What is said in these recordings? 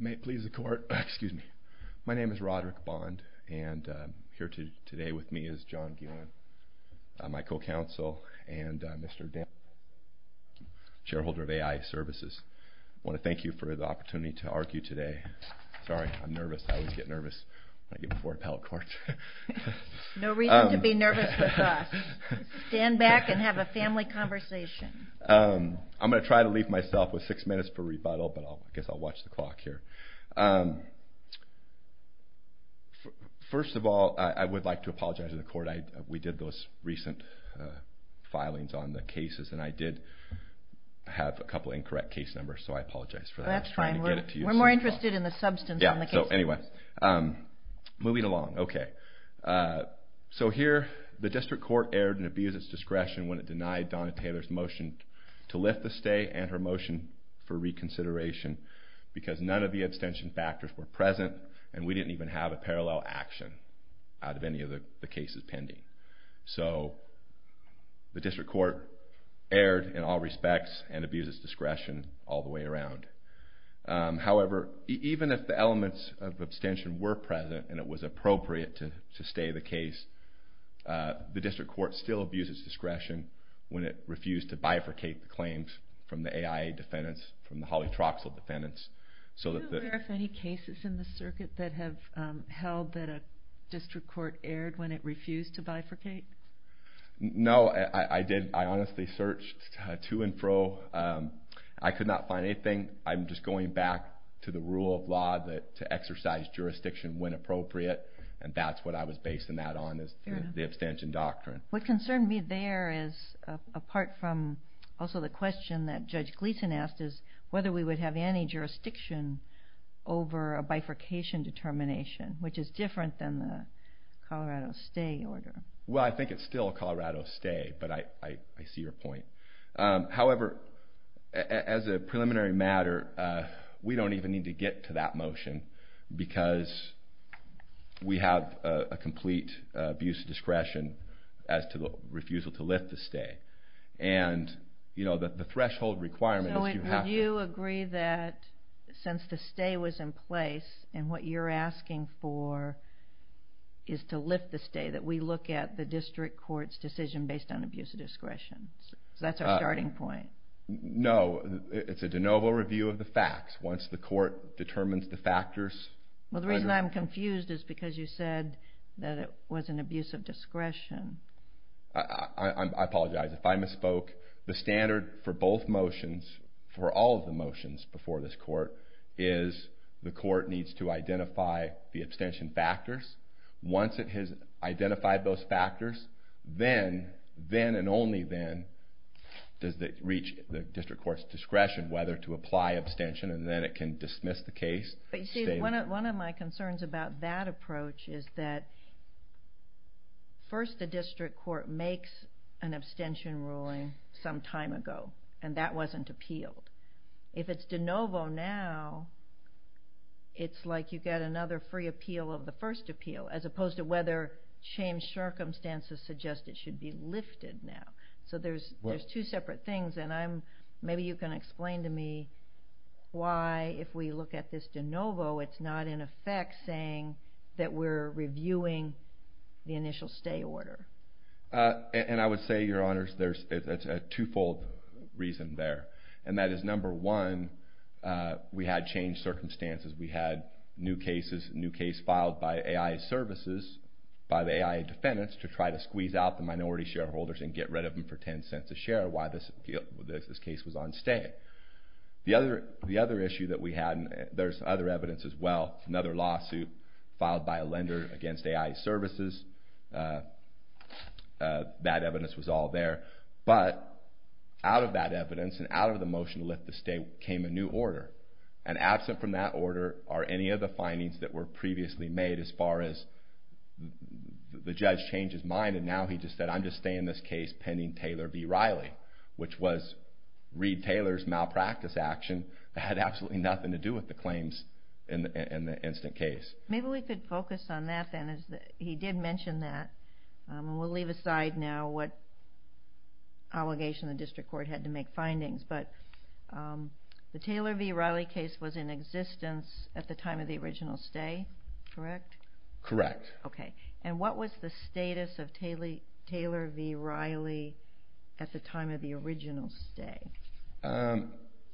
May it please the court, excuse me. My name is Roderick Bond, and here today with me is John Guillen, my co-counsel, and Mr. Dan, chair holder of AI Services. I want to thank you for the opportunity to argue today. Sorry, I'm nervous, I always get nervous when I get before appellate court. No reason to be nervous with us. Stand back and have a family conversation. I'm going to try to leave myself with six minutes for rebuttal, but I guess I'll watch the clock here. First of all, I would like to apologize to the court. We did those recent filings on the cases, and I did have a couple of incorrect case numbers, so I apologize for that. That's fine. We're more interested in the substance than the case numbers. Anyway, moving along. So here, the district court erred and abused its discretion when it denied Donna Taylor's motion to lift the stay and her motion for reconsideration, because none of the abstention factors were present, and we didn't even have a parallel action out of any of the cases pending. So the district court erred in all respects and abused its discretion all the way around. However, even if the elements of abstention were present and it was appropriate to stay the case, the district court still abuses discretion when it refused to bifurcate the claims from the AIA defendants, from the Holly Troxell defendants. Were there any cases in the circuit that have held that a district court erred when it refused to bifurcate? No, I honestly searched to and fro. I could not find anything. I'm just going back to the rule of law to exercise jurisdiction when appropriate, and that's what I was basing that on, the abstention doctrine. What concerned me there is, apart from also the question that Judge Gleeson asked, is whether we would have any jurisdiction over a bifurcation determination, which is different than the Colorado stay order. Well, I think it's still a Colorado stay, but I see your point. However, as a preliminary matter, we don't even need to get to that motion, because we have a complete abuse of discretion as to the refusal to lift the stay. And the threshold requirement is you have to... So would you agree that since the stay was in place and what you're asking for is to lift the stay, that we look at the district court's decision based on abuse of discretion? Because that's our starting point. No, it's a de novo review of the facts. Once the court determines the factors... Well, the reason I'm confused is because you said that it was an abuse of discretion. I apologize. If I misspoke, the standard for both motions, for all of the motions before this court, is the court needs to identify the abstention factors. Once it has identified those factors, then and only then does it reach the district court's discretion whether to apply abstention, and then it can dismiss the case. But you see, one of my concerns about that approach is that first the district court makes an abstention ruling some time ago, and that wasn't appealed. If it's de novo now, it's like you get another free appeal of the first appeal, as opposed to whether changed circumstances suggest it should be lifted now. So there's two separate things, and maybe you can explain to me why, if we look at this de novo, it's not in effect saying that we're reviewing the initial stay order. And I would say, Your Honors, there's a twofold reason there. And that is, number one, we had changed circumstances. We had new cases filed by AI Services, by the AI defendants, to try to squeeze out the minority shareholders and get rid of them for $0.10 a share. That's why this case was on stay. The other issue that we had, and there's other evidence as well, another lawsuit filed by a lender against AI Services. That evidence was all there. But out of that evidence and out of the motion to lift the stay came a new order, and absent from that order are any of the findings that were previously made as far as the judge changed his mind, and now he just said, I'm just staying in this case pending Taylor v. Riley, which was Reed Taylor's malpractice action that had absolutely nothing to do with the claims in the instant case. Maybe we could focus on that then. He did mention that, and we'll leave aside now what allegation the district court had to make findings. But the Taylor v. Riley case was in existence at the time of the original stay, correct? Correct. Okay, and what was the status of Taylor v. Riley at the time of the original stay?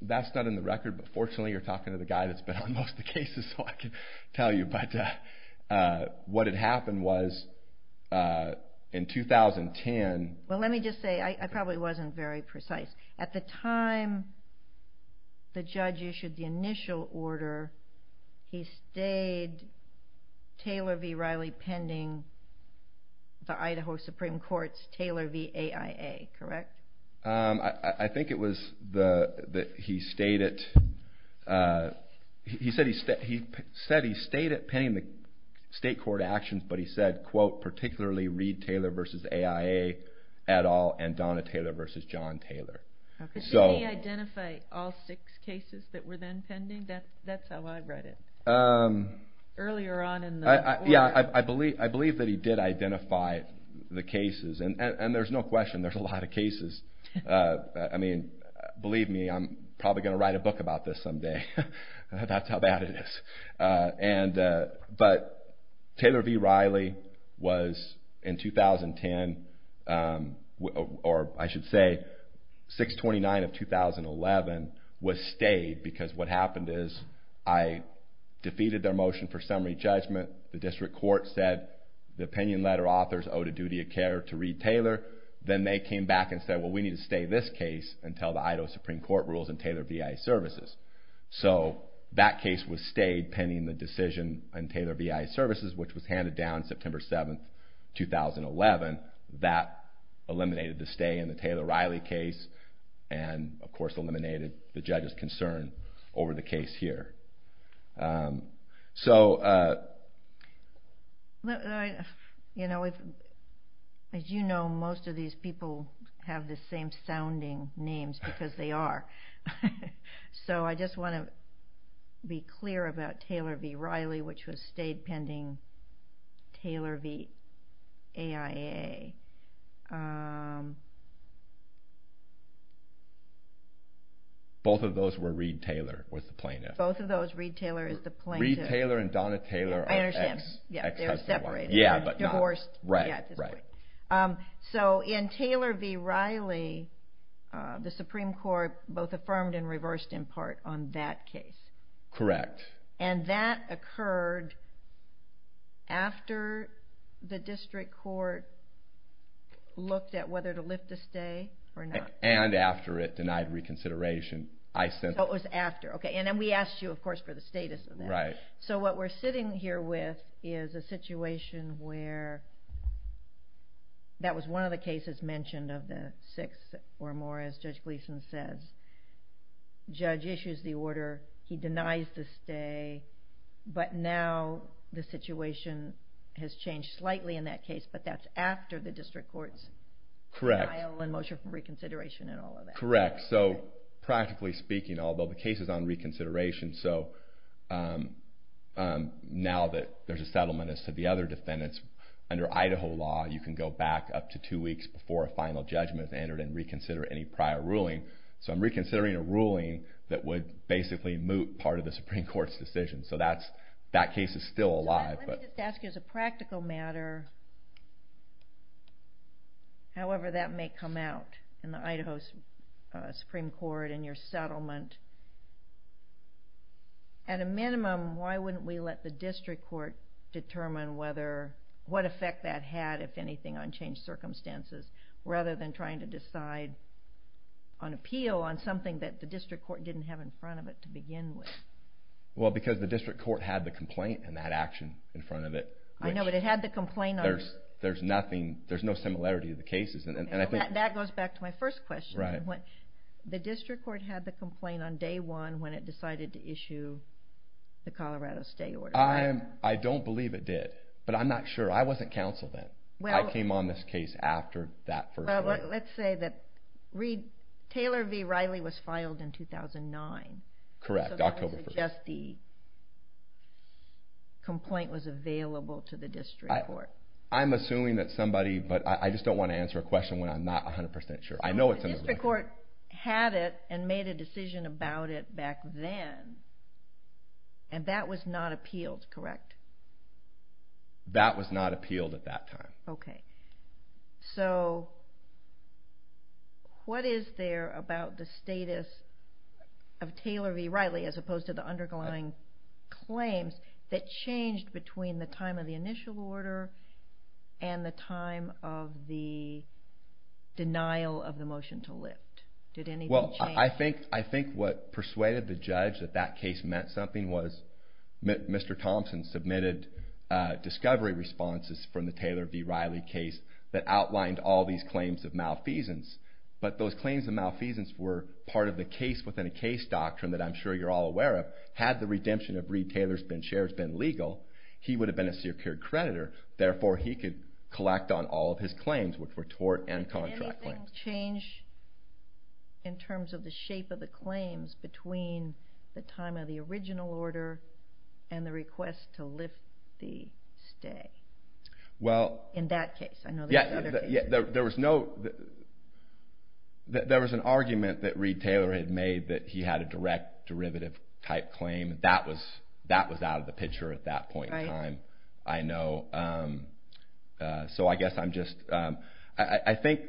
That's not in the record, but fortunately you're talking to the guy that's been on most of the cases, so I can tell you. But what had happened was, in 2010... Well, let me just say, I probably wasn't very precise. At the time the judge issued the initial order, he stayed Taylor v. Riley pending the Idaho Supreme Court's Taylor v. AIA, correct? I think it was that he stayed it. He said he stayed it pending the state court actions, but he said, quote, particularly Reed Taylor v. AIA et al. and Donna Taylor v. John Taylor. Did he identify all six cases that were then pending? That's how I read it. Earlier on in the order. Yeah, I believe that he did identify the cases, and there's no question there's a lot of cases. I mean, believe me, I'm probably going to write a book about this someday. That's how bad it is. But Taylor v. Riley was in 2010, or I should say 6-29 of 2011, was stayed because what happened is I defeated their motion for summary judgment. The district court said the opinion letter authors owed a duty of care to Reed Taylor. Then they came back and said, well, we need to stay this case until the Idaho Supreme Court rules in Taylor v. AIA Services. So that case was stayed pending the decision in Taylor v. AIA Services, which was handed down September 7, 2011. That eliminated the stay in the Taylor v. Riley case and, of course, eliminated the judge's concern over the case here. As you know, most of these people have the same sounding names because they are. So I just want to be clear about Taylor v. Riley, which was stayed pending Taylor v. AIA. Both of those were Reed Taylor, was the plaintiff. Both of those, Reed Taylor is the plaintiff. Reed Taylor and Donna Taylor are ex-husband and wife. I understand. They're separated. Yeah, but not. Divorced at this point. So in Taylor v. Riley, the Supreme Court both affirmed and reversed in part on that case. Correct. And that occurred after the district court looked at whether to lift the stay or not. And after it denied reconsideration. So it was after. And then we asked you, of course, for the status of that. Right. So what we're sitting here with is a situation where that was one of the cases mentioned of the six or more, as Judge Gleason says. Judge issues the order. He denies the stay. But now the situation has changed slightly in that case, but that's after the district court's denial and motion for reconsideration and all of that. Correct. So practically speaking, although the case is on reconsideration, so now that there's a settlement as to the other defendants, under Idaho law you can go back up to two weeks before a final judgment is entered and reconsider any prior ruling. So I'm reconsidering a ruling that would basically moot part of the Supreme Court's decision. So that case is still alive. Let me just ask you as a practical matter, however that may come out in the Idaho Supreme Court in your settlement, at a minimum why wouldn't we let the district court determine what effect that had, if anything, on changed circumstances rather than trying to decide on appeal on something that the district court didn't have in front of it to begin with? Well, because the district court had the complaint and that action in front of it. I know, but it had the complaint. There's no similarity to the cases. That goes back to my first question. The district court had the complaint on day one when it decided to issue the Colorado stay order. I don't believe it did, but I'm not sure. I wasn't counsel then. I came on this case after that first court. Well, let's say that Taylor v. Riley was filed in 2009. Correct, October 1st. So that would suggest the complaint was available to the district court. I'm assuming that somebody, but I just don't want to answer a question when I'm not 100% sure. I know it's in the record. The district court had it and made a decision about it back then, and that was not appealed, correct? That was not appealed at that time. Okay. So what is there about the status of Taylor v. Riley as opposed to the underlying claims that changed between the time of the initial order and the time of the denial of the motion to lift? Did anything change? Well, I think what persuaded the judge that that case meant something was Mr. Thompson submitted discovery responses from the Taylor v. Riley case that outlined all these claims of malfeasance. But those claims of malfeasance were part of the case within a case doctrine that I'm sure you're all aware of. Had the redemption of Reed Taylor's Ben Shares been legal, he would have been a secure creditor. Therefore, he could collect on all of his claims, which were tort and contract claims. Did anything change in terms of the shape of the claims between the time of the original order and the request to lift the stay in that case? There was an argument that Reed Taylor had made that he had a direct derivative type claim. That was out of the picture at that point in time. Right. I know. So I guess I'm just, I think,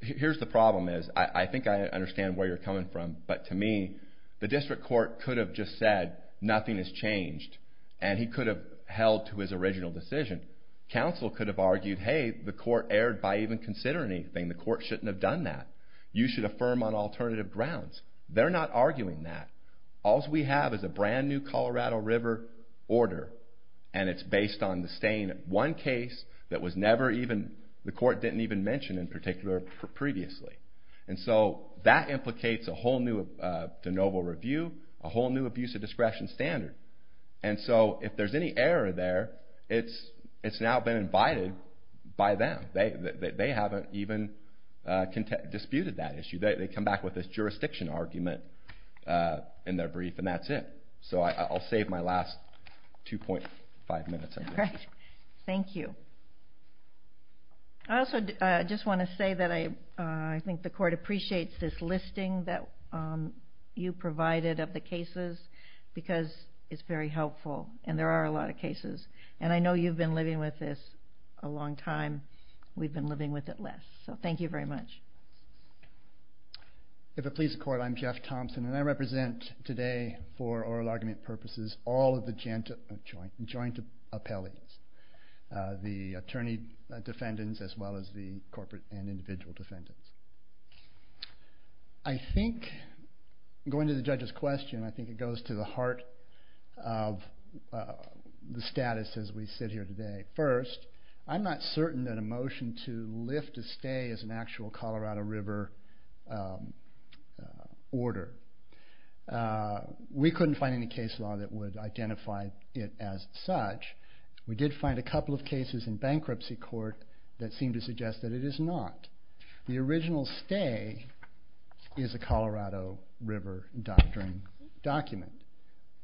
here's the problem is, I think I understand where you're coming from, but to me, the district court could have just said, nothing has changed. And he could have held to his original decision. Counsel could have argued, hey, the court erred by even considering anything. The court shouldn't have done that. You should affirm on alternative grounds. They're not arguing that. All we have is a brand new Colorado River order, and it's based on the stay in one case that was never even, the court didn't even mention in particular previously. And so that implicates a whole new de novo review, a whole new abuse of discretion standard. And so if there's any error there, it's now been invited by them. They haven't even disputed that issue. They come back with this jurisdiction argument in their brief, and that's it. So I'll save my last 2.5 minutes. All right. Thank you. I also just want to say that I think the court appreciates this listing that you provided of the cases because it's very helpful, and there are a lot of cases. And I know you've been living with this a long time. We've been living with it less. So thank you very much. If it pleases the court, I'm Jeff Thompson, and I represent today for oral argument purposes all of the joint appellees, the attorney defendants as well as the corporate and individual defendants. I think going to the judge's question, I think it goes to the heart of the status as we sit here today. First, I'm not certain that a motion to lift a stay is an actual Colorado River order. We couldn't find any case law that would identify it as such. We did find a couple of cases in bankruptcy court that seemed to suggest that it is not. The original stay is a Colorado River doctrine document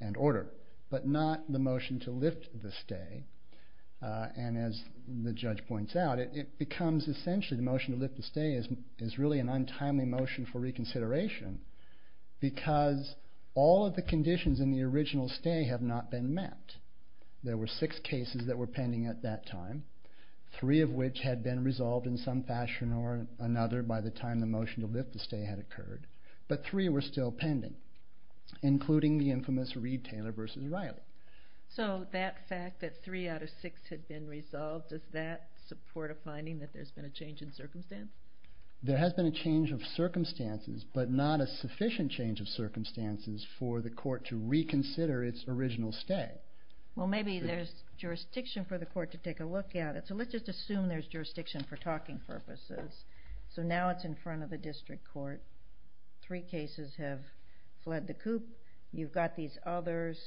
and order, but not the motion to lift the stay. And as the judge points out, it becomes essentially the motion to lift the stay is really an untimely motion for reconsideration because all of the conditions in the original stay have not been met. There were six cases that were pending at that time, three of which had been resolved in some fashion or another by the time the motion to lift the stay had occurred, but three were still pending, including the infamous Reed-Taylor v. Riley. So that fact that three out of six had been resolved, does that support a finding that there's been a change in circumstance? There has been a change of circumstances, but not a sufficient change of circumstances for the court to reconsider its original stay. Well, maybe there's jurisdiction for the court to take a look at it, so let's just assume there's jurisdiction for talking purposes. So now it's in front of the district court. Three cases have fled the coop. You've got these others,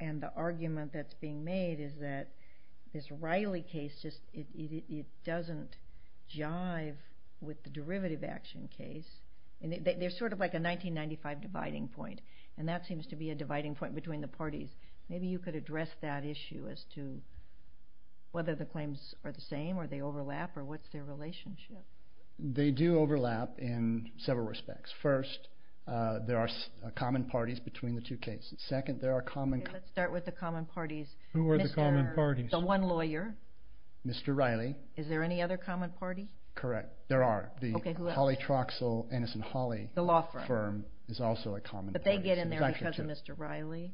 and the argument that's being made is that this Riley case, it doesn't jive with the derivative action case. There's sort of like a 1995 dividing point, and that seems to be a dividing point between the parties. Maybe you could address that issue as to whether the claims are the same, or they overlap, or what's their relationship? They do overlap in several respects. First, there are common parties between the two cases. Second, there are common parties. Okay, let's start with the common parties. Who are the common parties? The one lawyer. Mr. Riley. Is there any other common party? Correct. There are. Okay, who else? The Holly Troxell, Anson Holly firm is also a common party. Did they get in there because of Mr. Riley?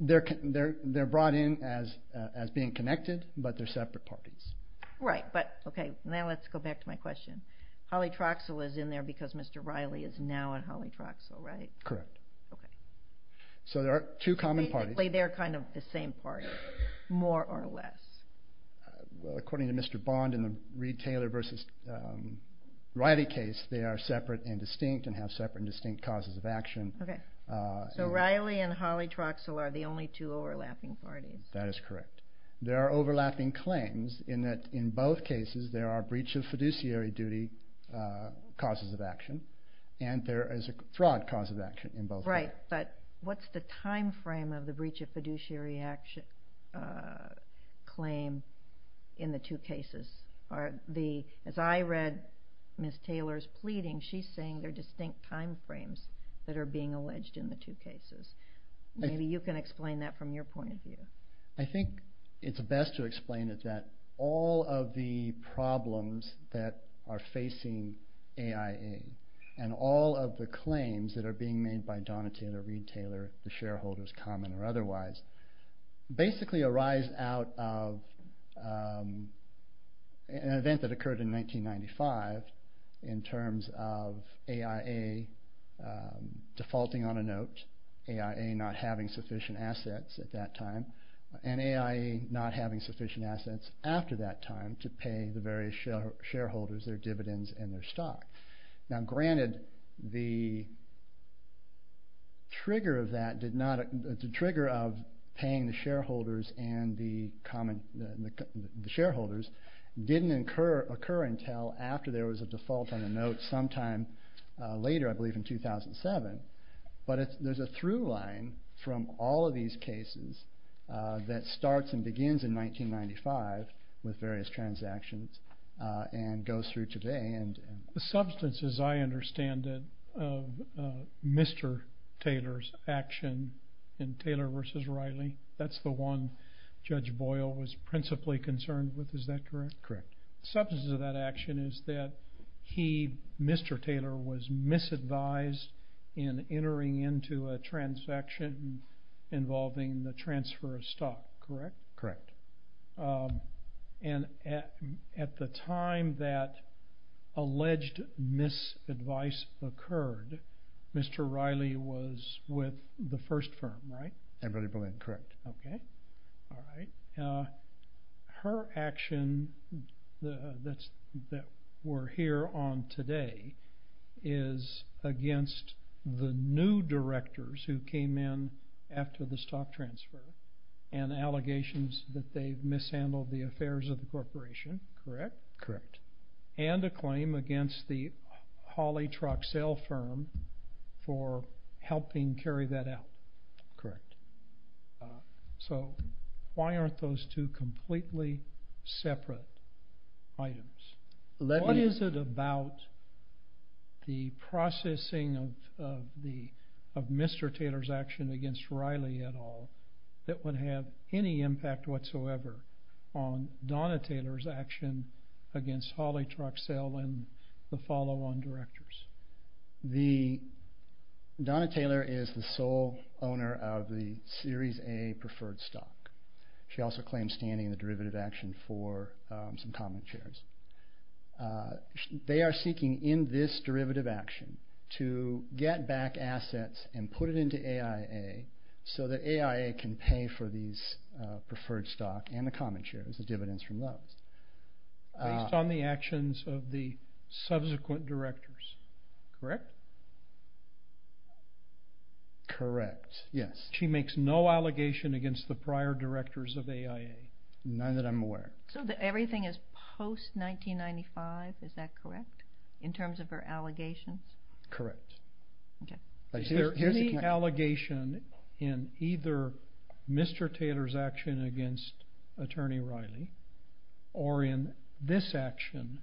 They're brought in as being connected, but they're separate parties. Right. Okay, now let's go back to my question. Holly Troxell is in there because Mr. Riley is now on Holly Troxell, right? Correct. Okay. So there are two common parties. They're kind of the same party, more or less. According to Mr. Bond in the Reed-Taylor versus Riley case, they are separate and distinct and have separate and distinct causes of action. Okay. So Riley and Holly Troxell are the only two overlapping parties. That is correct. There are overlapping claims in that, in both cases, there are breach of fiduciary duty causes of action, and there is a fraud cause of action in both cases. Right, but what's the time frame of the breach of fiduciary action claim in the two cases? As I read Ms. Taylor's pleading, she's saying there are distinct time frames that are being alleged in the two cases. Maybe you can explain that from your point of view. I think it's best to explain it that all of the problems that are facing AIA and all of the claims that are being made by Donna Taylor, Reed-Taylor, common or otherwise, basically arise out of an event that occurred in 1995 in terms of AIA defaulting on a note, AIA not having sufficient assets at that time, and AIA not having sufficient assets after that time to pay the various shareholders their dividends and their stock. Now granted, the trigger of that did not, the trigger of paying the shareholders and the common, the shareholders didn't occur until after there was a default on a note sometime later, I believe in 2007, but there's a through line from all of these cases that starts and begins in 1995 with various transactions and goes through today. The substance, as I understand it, of Mr. Taylor's action in Taylor versus Riley, that's the one Judge Boyle was principally concerned with, is that correct? Correct. The substance of that action is that he, Mr. Taylor, was misadvised in entering into a transaction involving the transfer of stock, correct? Correct. And at the time that alleged misadvice occurred, Mr. Riley was with the first firm, right? Emberly Berlin, correct. Okay, all right. Her action that we're here on today is against the new directors who came in after the stock transfer and allegations that they've mishandled the affairs of the corporation, correct? Correct. And a claim against the Hawley Troxell firm for helping carry that out. Correct. So why aren't those two completely separate items? What is it about the processing of Mr. Taylor's action against Riley et al that would have any impact whatsoever on Donna Taylor's action against Hawley Troxell and the follow-on directors? Donna Taylor is the sole owner of the Series A preferred stock. She also claims standing in the derivative action for some common shares. They are seeking in this derivative action to get back assets and put it into AIA so that AIA can pay for these preferred stock and the common shares, the dividends from those. Based on the actions of the subsequent directors, correct? Correct, yes. She makes no allegation against the prior directors of AIA. None that I'm aware of. So everything is post-1995, is that correct, in terms of her allegations? Correct. Is there any allegation in either Mr. Taylor's action against Attorney Riley or in this action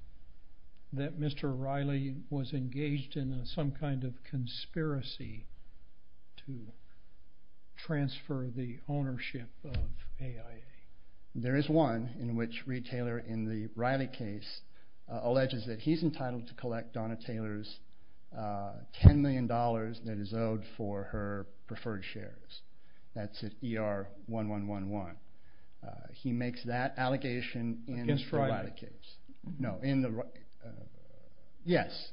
that Mr. Riley was engaged in some kind of conspiracy to transfer the ownership of AIA? There is one in which Reed Taylor, in the Riley case, alleges that he's entitled to collect Donna Taylor's $10 million that is owed for her preferred shares. That's at ER 1111. He makes that allegation in the Riley case. Against Riley? No, in the Riley case. Yes,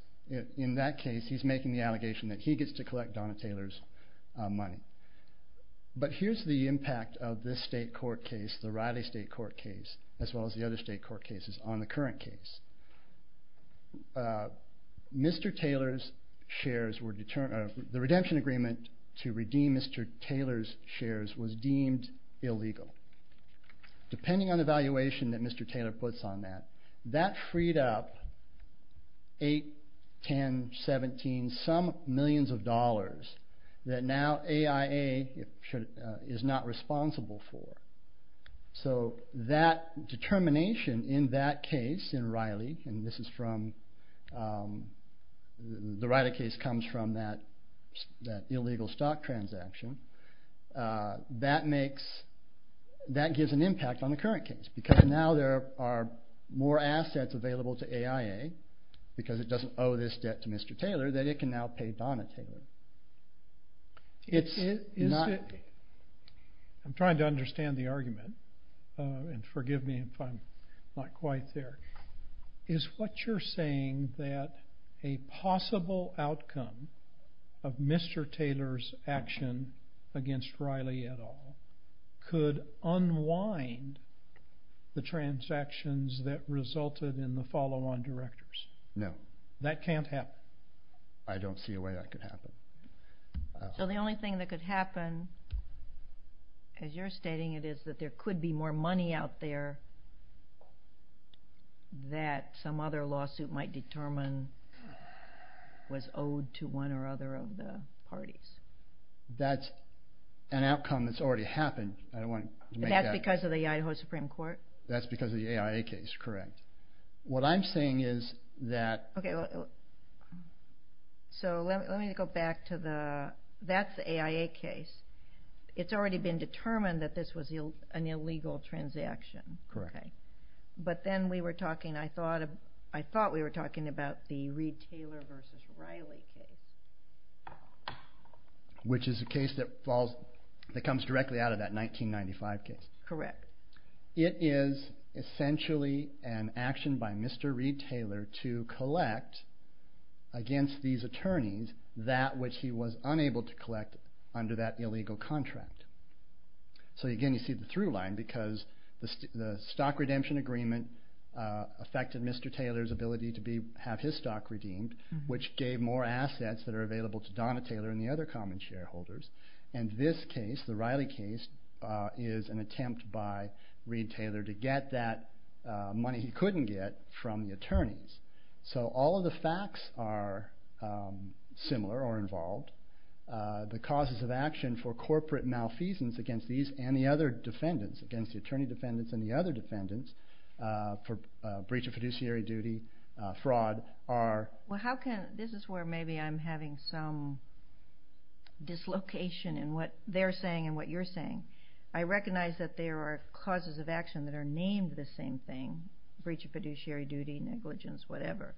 in that case he's making the allegation that he gets to collect Donna Taylor's money. But here's the impact of this state court case, the Riley state court case, as well as the other state court cases on the current case. Mr. Taylor's shares were determined, the redemption agreement to redeem Mr. Taylor's shares was deemed illegal. Depending on the valuation that Mr. Taylor puts on that, that freed up $8, $10, $17, some millions of dollars that now AIA is not responsible for. So that determination in that case, in Riley, and the Riley case comes from that illegal stock transaction, that gives an impact on the current case because now there are more assets available to AIA because it doesn't owe this debt to Mr. Taylor that it can now pay Donna Taylor. It's not... I'm trying to understand the argument, and forgive me if I'm not quite there. Is what you're saying that a possible outcome of Mr. Taylor's action against Riley et al. could unwind the transactions that resulted in the follow-on directors? No. That can't happen? I don't see a way that could happen. So the only thing that could happen, as you're stating it, is that there could be more money out there that some other lawsuit might determine was owed to one or other of the parties. That's an outcome that's already happened. That's because of the Idaho Supreme Court? That's because of the AIA case, correct. What I'm saying is that... Okay, so let me go back to the... That's the AIA case. It's already been determined that this was an illegal transaction. Correct. But then we were talking... I thought we were talking about the Reed-Taylor v. Riley case. Which is a case that comes directly out of that 1995 case. Correct. It is essentially an action by Mr. Reed-Taylor to collect against these attorneys that which he was unable to collect under that illegal contract. So, again, you see the through line because the stock redemption agreement affected Mr. Taylor's ability to have his stock redeemed, which gave more assets that are available to Donna Taylor and the other common shareholders. And this case, the Riley case, is an attempt by Reed-Taylor to get that money he couldn't get from the attorneys. So all of the facts are similar or involved. The causes of action for corporate malfeasance against these and the other defendants, against the attorney defendants and the other defendants for breach of fiduciary duty, fraud, are... Well, how can... This is where maybe I'm having some dislocation in what they're saying and what you're saying. I recognize that there are causes of action that are named the same thing, breach of fiduciary duty, negligence, whatever.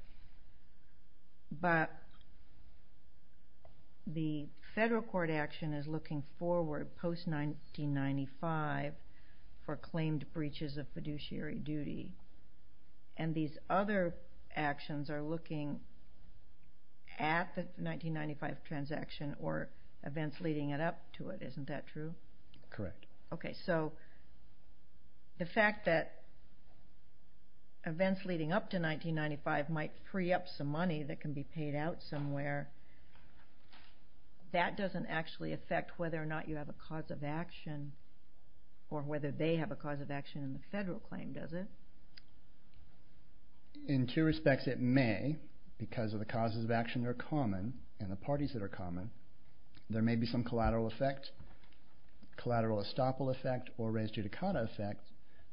But the federal court action is looking forward post-1995 for claimed breaches of fiduciary duty. And these other actions are looking at the 1995 transaction or events leading it up to it. Isn't that true? Correct. Okay. So the fact that events leading up to 1995 might free up some money that can be paid out somewhere, that doesn't actually affect whether or not you have a cause of action or whether they have a cause of action in the federal claim, does it? In two respects it may, because of the causes of action that are common and the parties that are common. There may be some collateral effect, collateral estoppel effect, or res judicata effect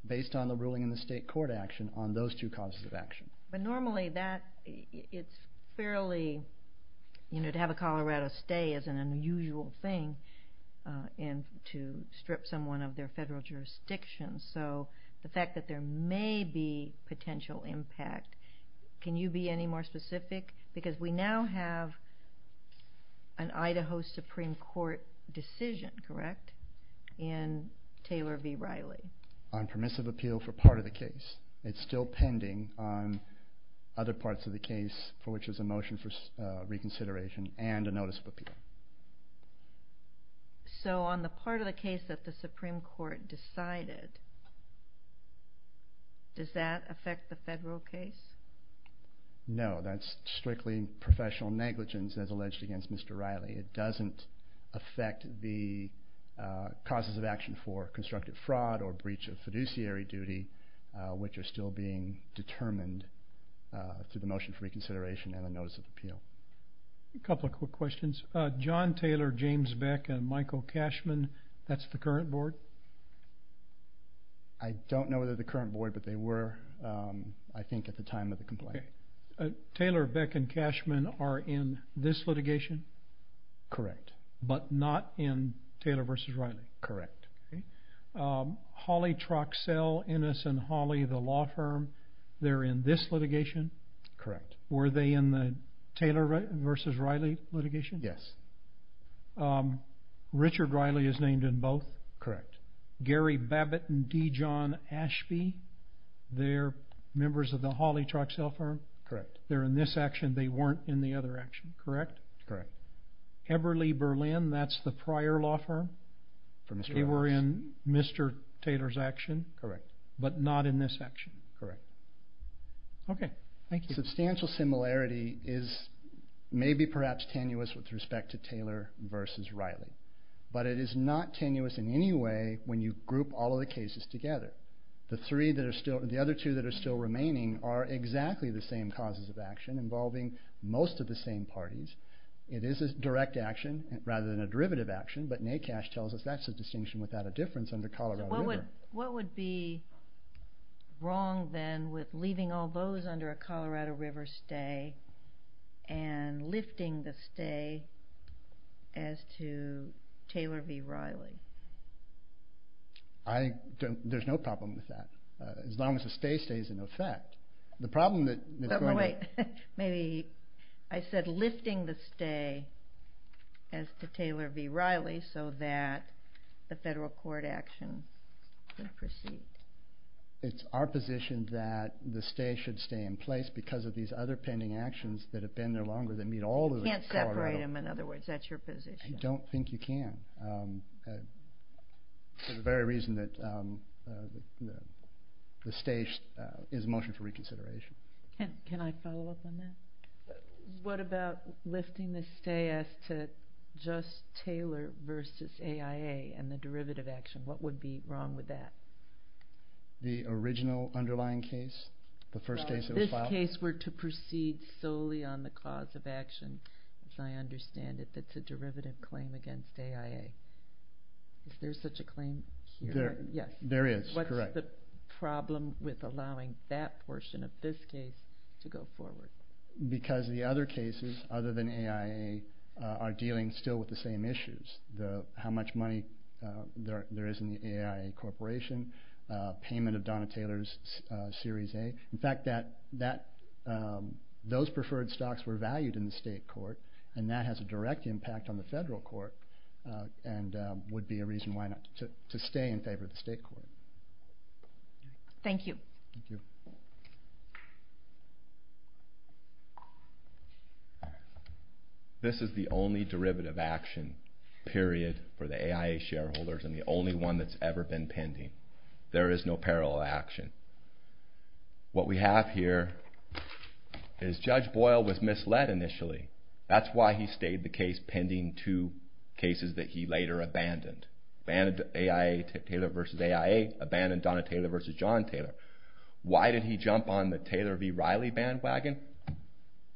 based on the ruling in the state court action on those two causes of action. But normally that... It's fairly... You know, to have a Colorado stay is an unusual thing and to strip someone of their federal jurisdiction. So the fact that there may be potential impact... Can you be any more specific? Because we now have an Idaho Supreme Court decision, correct, in Taylor v. Riley. On permissive appeal for part of the case. It's still pending on other parts of the case for which there's a motion for reconsideration and a notice of appeal. So on the part of the case that the Supreme Court decided, does that affect the federal case? No, that's strictly professional negligence, as alleged against Mr. Riley. It doesn't affect the causes of action for constructive fraud or breach of fiduciary duty, which are still being determined through the motion for reconsideration and a notice of appeal. A couple of quick questions. John Taylor, James Beck, and Michael Cashman, that's the current board? I don't know whether they're the current board, but they were, I think, at the time of the complaint. Taylor, Beck, and Cashman are in this litigation? Correct. But not in Taylor v. Riley? Correct. Hawley, Troxell, Ennis, and Hawley, the law firm, they're in this litigation? Correct. Were they in the Taylor v. Riley litigation? Yes. Richard Riley is named in both? Correct. Gary Babbitt and D. John Ashby, they're members of the Hawley Troxell firm? Correct. They're in this action. They weren't in the other action, correct? Correct. Eberle Berlin, that's the prior law firm? They were in Mr. Taylor's action? Correct. But not in this action? Correct. Okay. Thank you. Substantial similarity is maybe, perhaps, tenuous with respect to Taylor v. Riley, but it is not tenuous in any way when you group all of the cases together. The other two that are still remaining are exactly the same causes of action involving most of the same parties. It is a direct action rather than a derivative action, but NACASH tells us that's a distinction without a difference under Colorado River. What would be wrong, then, with leaving all those under a Colorado River stay and lifting the stay as to Taylor v. Riley? There's no problem with that, as long as the stay stays in effect. The problem that's going to... I said lifting the stay as to Taylor v. Riley so that the federal court action can proceed. It's our position that the stay should stay in place because of these other pending actions that have been there longer that meet all of the Colorado... You can't separate them, in other words. That's your position. I don't think you can, for the very reason that the stay is a motion for reconsideration. Can I follow up on that? What about lifting the stay as to just Taylor v. AIA and the derivative action? What would be wrong with that? The original underlying case, the first case that was filed? If this case were to proceed solely on the cause of action, as I understand it, that's a derivative claim against AIA. Is there such a claim here? There is. Correct. What's the problem with allowing that portion of this case to go forward? Because the other cases other than AIA are dealing still with the same issues. How much money there is in the AIA Corporation, payment of Donna Taylor's Series A. In fact, those preferred stocks were valued in the state court, and that has a direct impact on the federal court and would be a reason to stay in favor of the state court. Thank you. Thank you. This is the only derivative action, period, for the AIA shareholders, and the only one that's ever been pending. There is no parallel action. What we have here is Judge Boyle was misled initially. That's why he stayed the case pending two cases that he later abandoned. Abandoned AIA, Taylor v. AIA, abandoned Donna Taylor v. John Taylor. Why did he jump on the Taylor v. Riley bandwagon?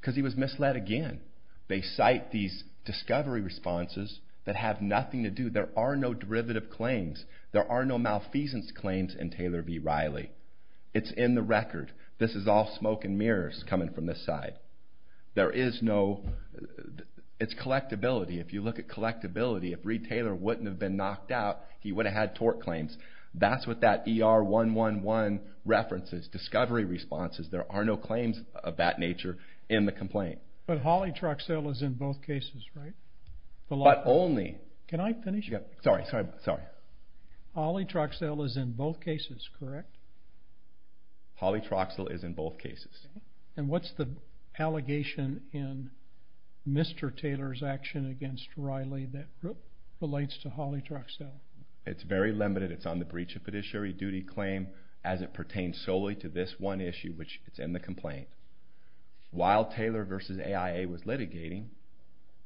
Because he was misled again. They cite these discovery responses that have nothing to do. There are no derivative claims. There are no malfeasance claims in Taylor v. Riley. It's in the record. This is all smoke and mirrors coming from this side. There is no... It's collectability. If you look at collectability, if Reed Taylor wouldn't have been knocked out, he would have had tort claims. That's what that ER111 reference is, discovery responses. There are no claims of that nature in the complaint. But Holly Troxell is in both cases, right? But only... Can I finish? Sorry, sorry, sorry. Holly Troxell is in both cases, correct? Holly Troxell is in both cases. And what's the allegation in Mr. Taylor's action against Riley that relates to Holly Troxell? It's very limited. It's on the breach of a judiciary duty claim as it pertains solely to this one issue, which is in the complaint. While Taylor v. AIA was litigating,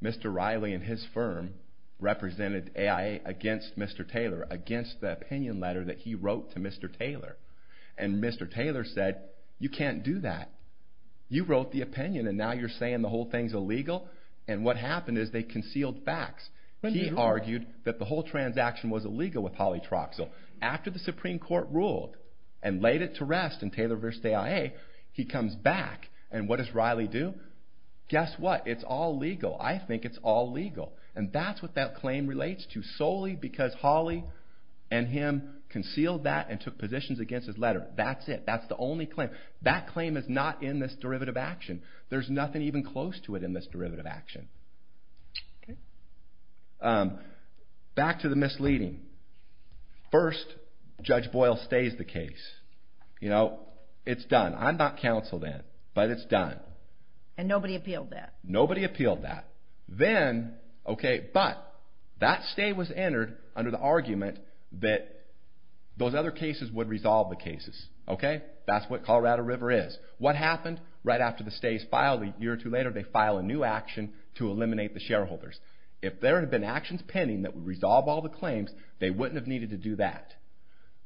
Mr. Riley and his firm represented AIA against Mr. Taylor, against the opinion letter that he wrote to Mr. Taylor. And Mr. Taylor said, You can't do that. You wrote the opinion, and now you're saying the whole thing's illegal? And what happened is they concealed facts. He argued that the whole transaction was illegal with Holly Troxell. After the Supreme Court ruled and laid it to rest in Taylor v. AIA, he comes back. And what does Riley do? Guess what? It's all legal. I think it's all legal. And that's what that claim relates to, solely because Holly and him concealed that and took positions against his letter. That's it. That's the only claim. That claim is not in this derivative action. There's nothing even close to it in this derivative action. Back to the misleading. First, Judge Boyle stays the case. You know, it's done. I'm not counsel then, but it's done. And nobody appealed that? Nobody appealed that. Then, okay, but, that stay was entered under the argument that those other cases would resolve the cases. Okay? That's what Colorado River is. What happened right after the stay is filed? A year or two later, they file a new action to eliminate the shareholders. If there had been actions pending that would resolve all the claims, they wouldn't have needed to do that.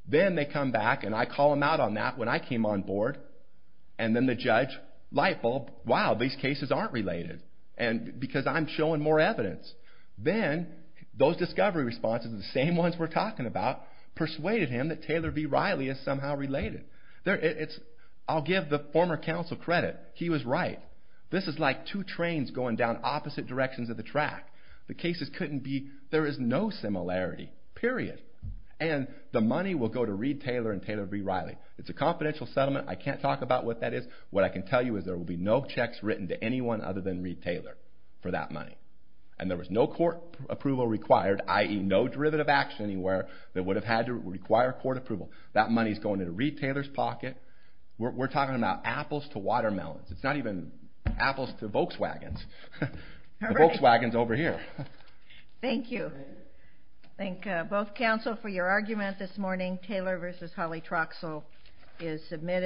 Then they come back, and I call them out on that when I came on board. And then the judge, light bulb, wow, these cases aren't related, because I'm showing more evidence. Then, those discovery responses, the same ones we're talking about, persuaded him that Taylor v. Riley is somehow related. I'll give the former counsel credit. He was right. This is like two trains going down opposite directions of the track. The cases couldn't be, there is no similarity. Period. And the money will go to Reed Taylor and Taylor v. Riley. It's a confidential settlement. I can't talk about what that is. What I can tell you is there will be no checks written to anyone other than Reed Taylor for that money. And there was no court approval required, i.e. no derivative action anywhere that would have had to require court approval. That money's going into Reed Taylor's pocket. We're talking about apples to watermelons. It's not even apples to Volkswagens. The Volkswagen's over here. Thank you. Thank both counsel for your argument this morning. Taylor v. Holly Troxell is submitted.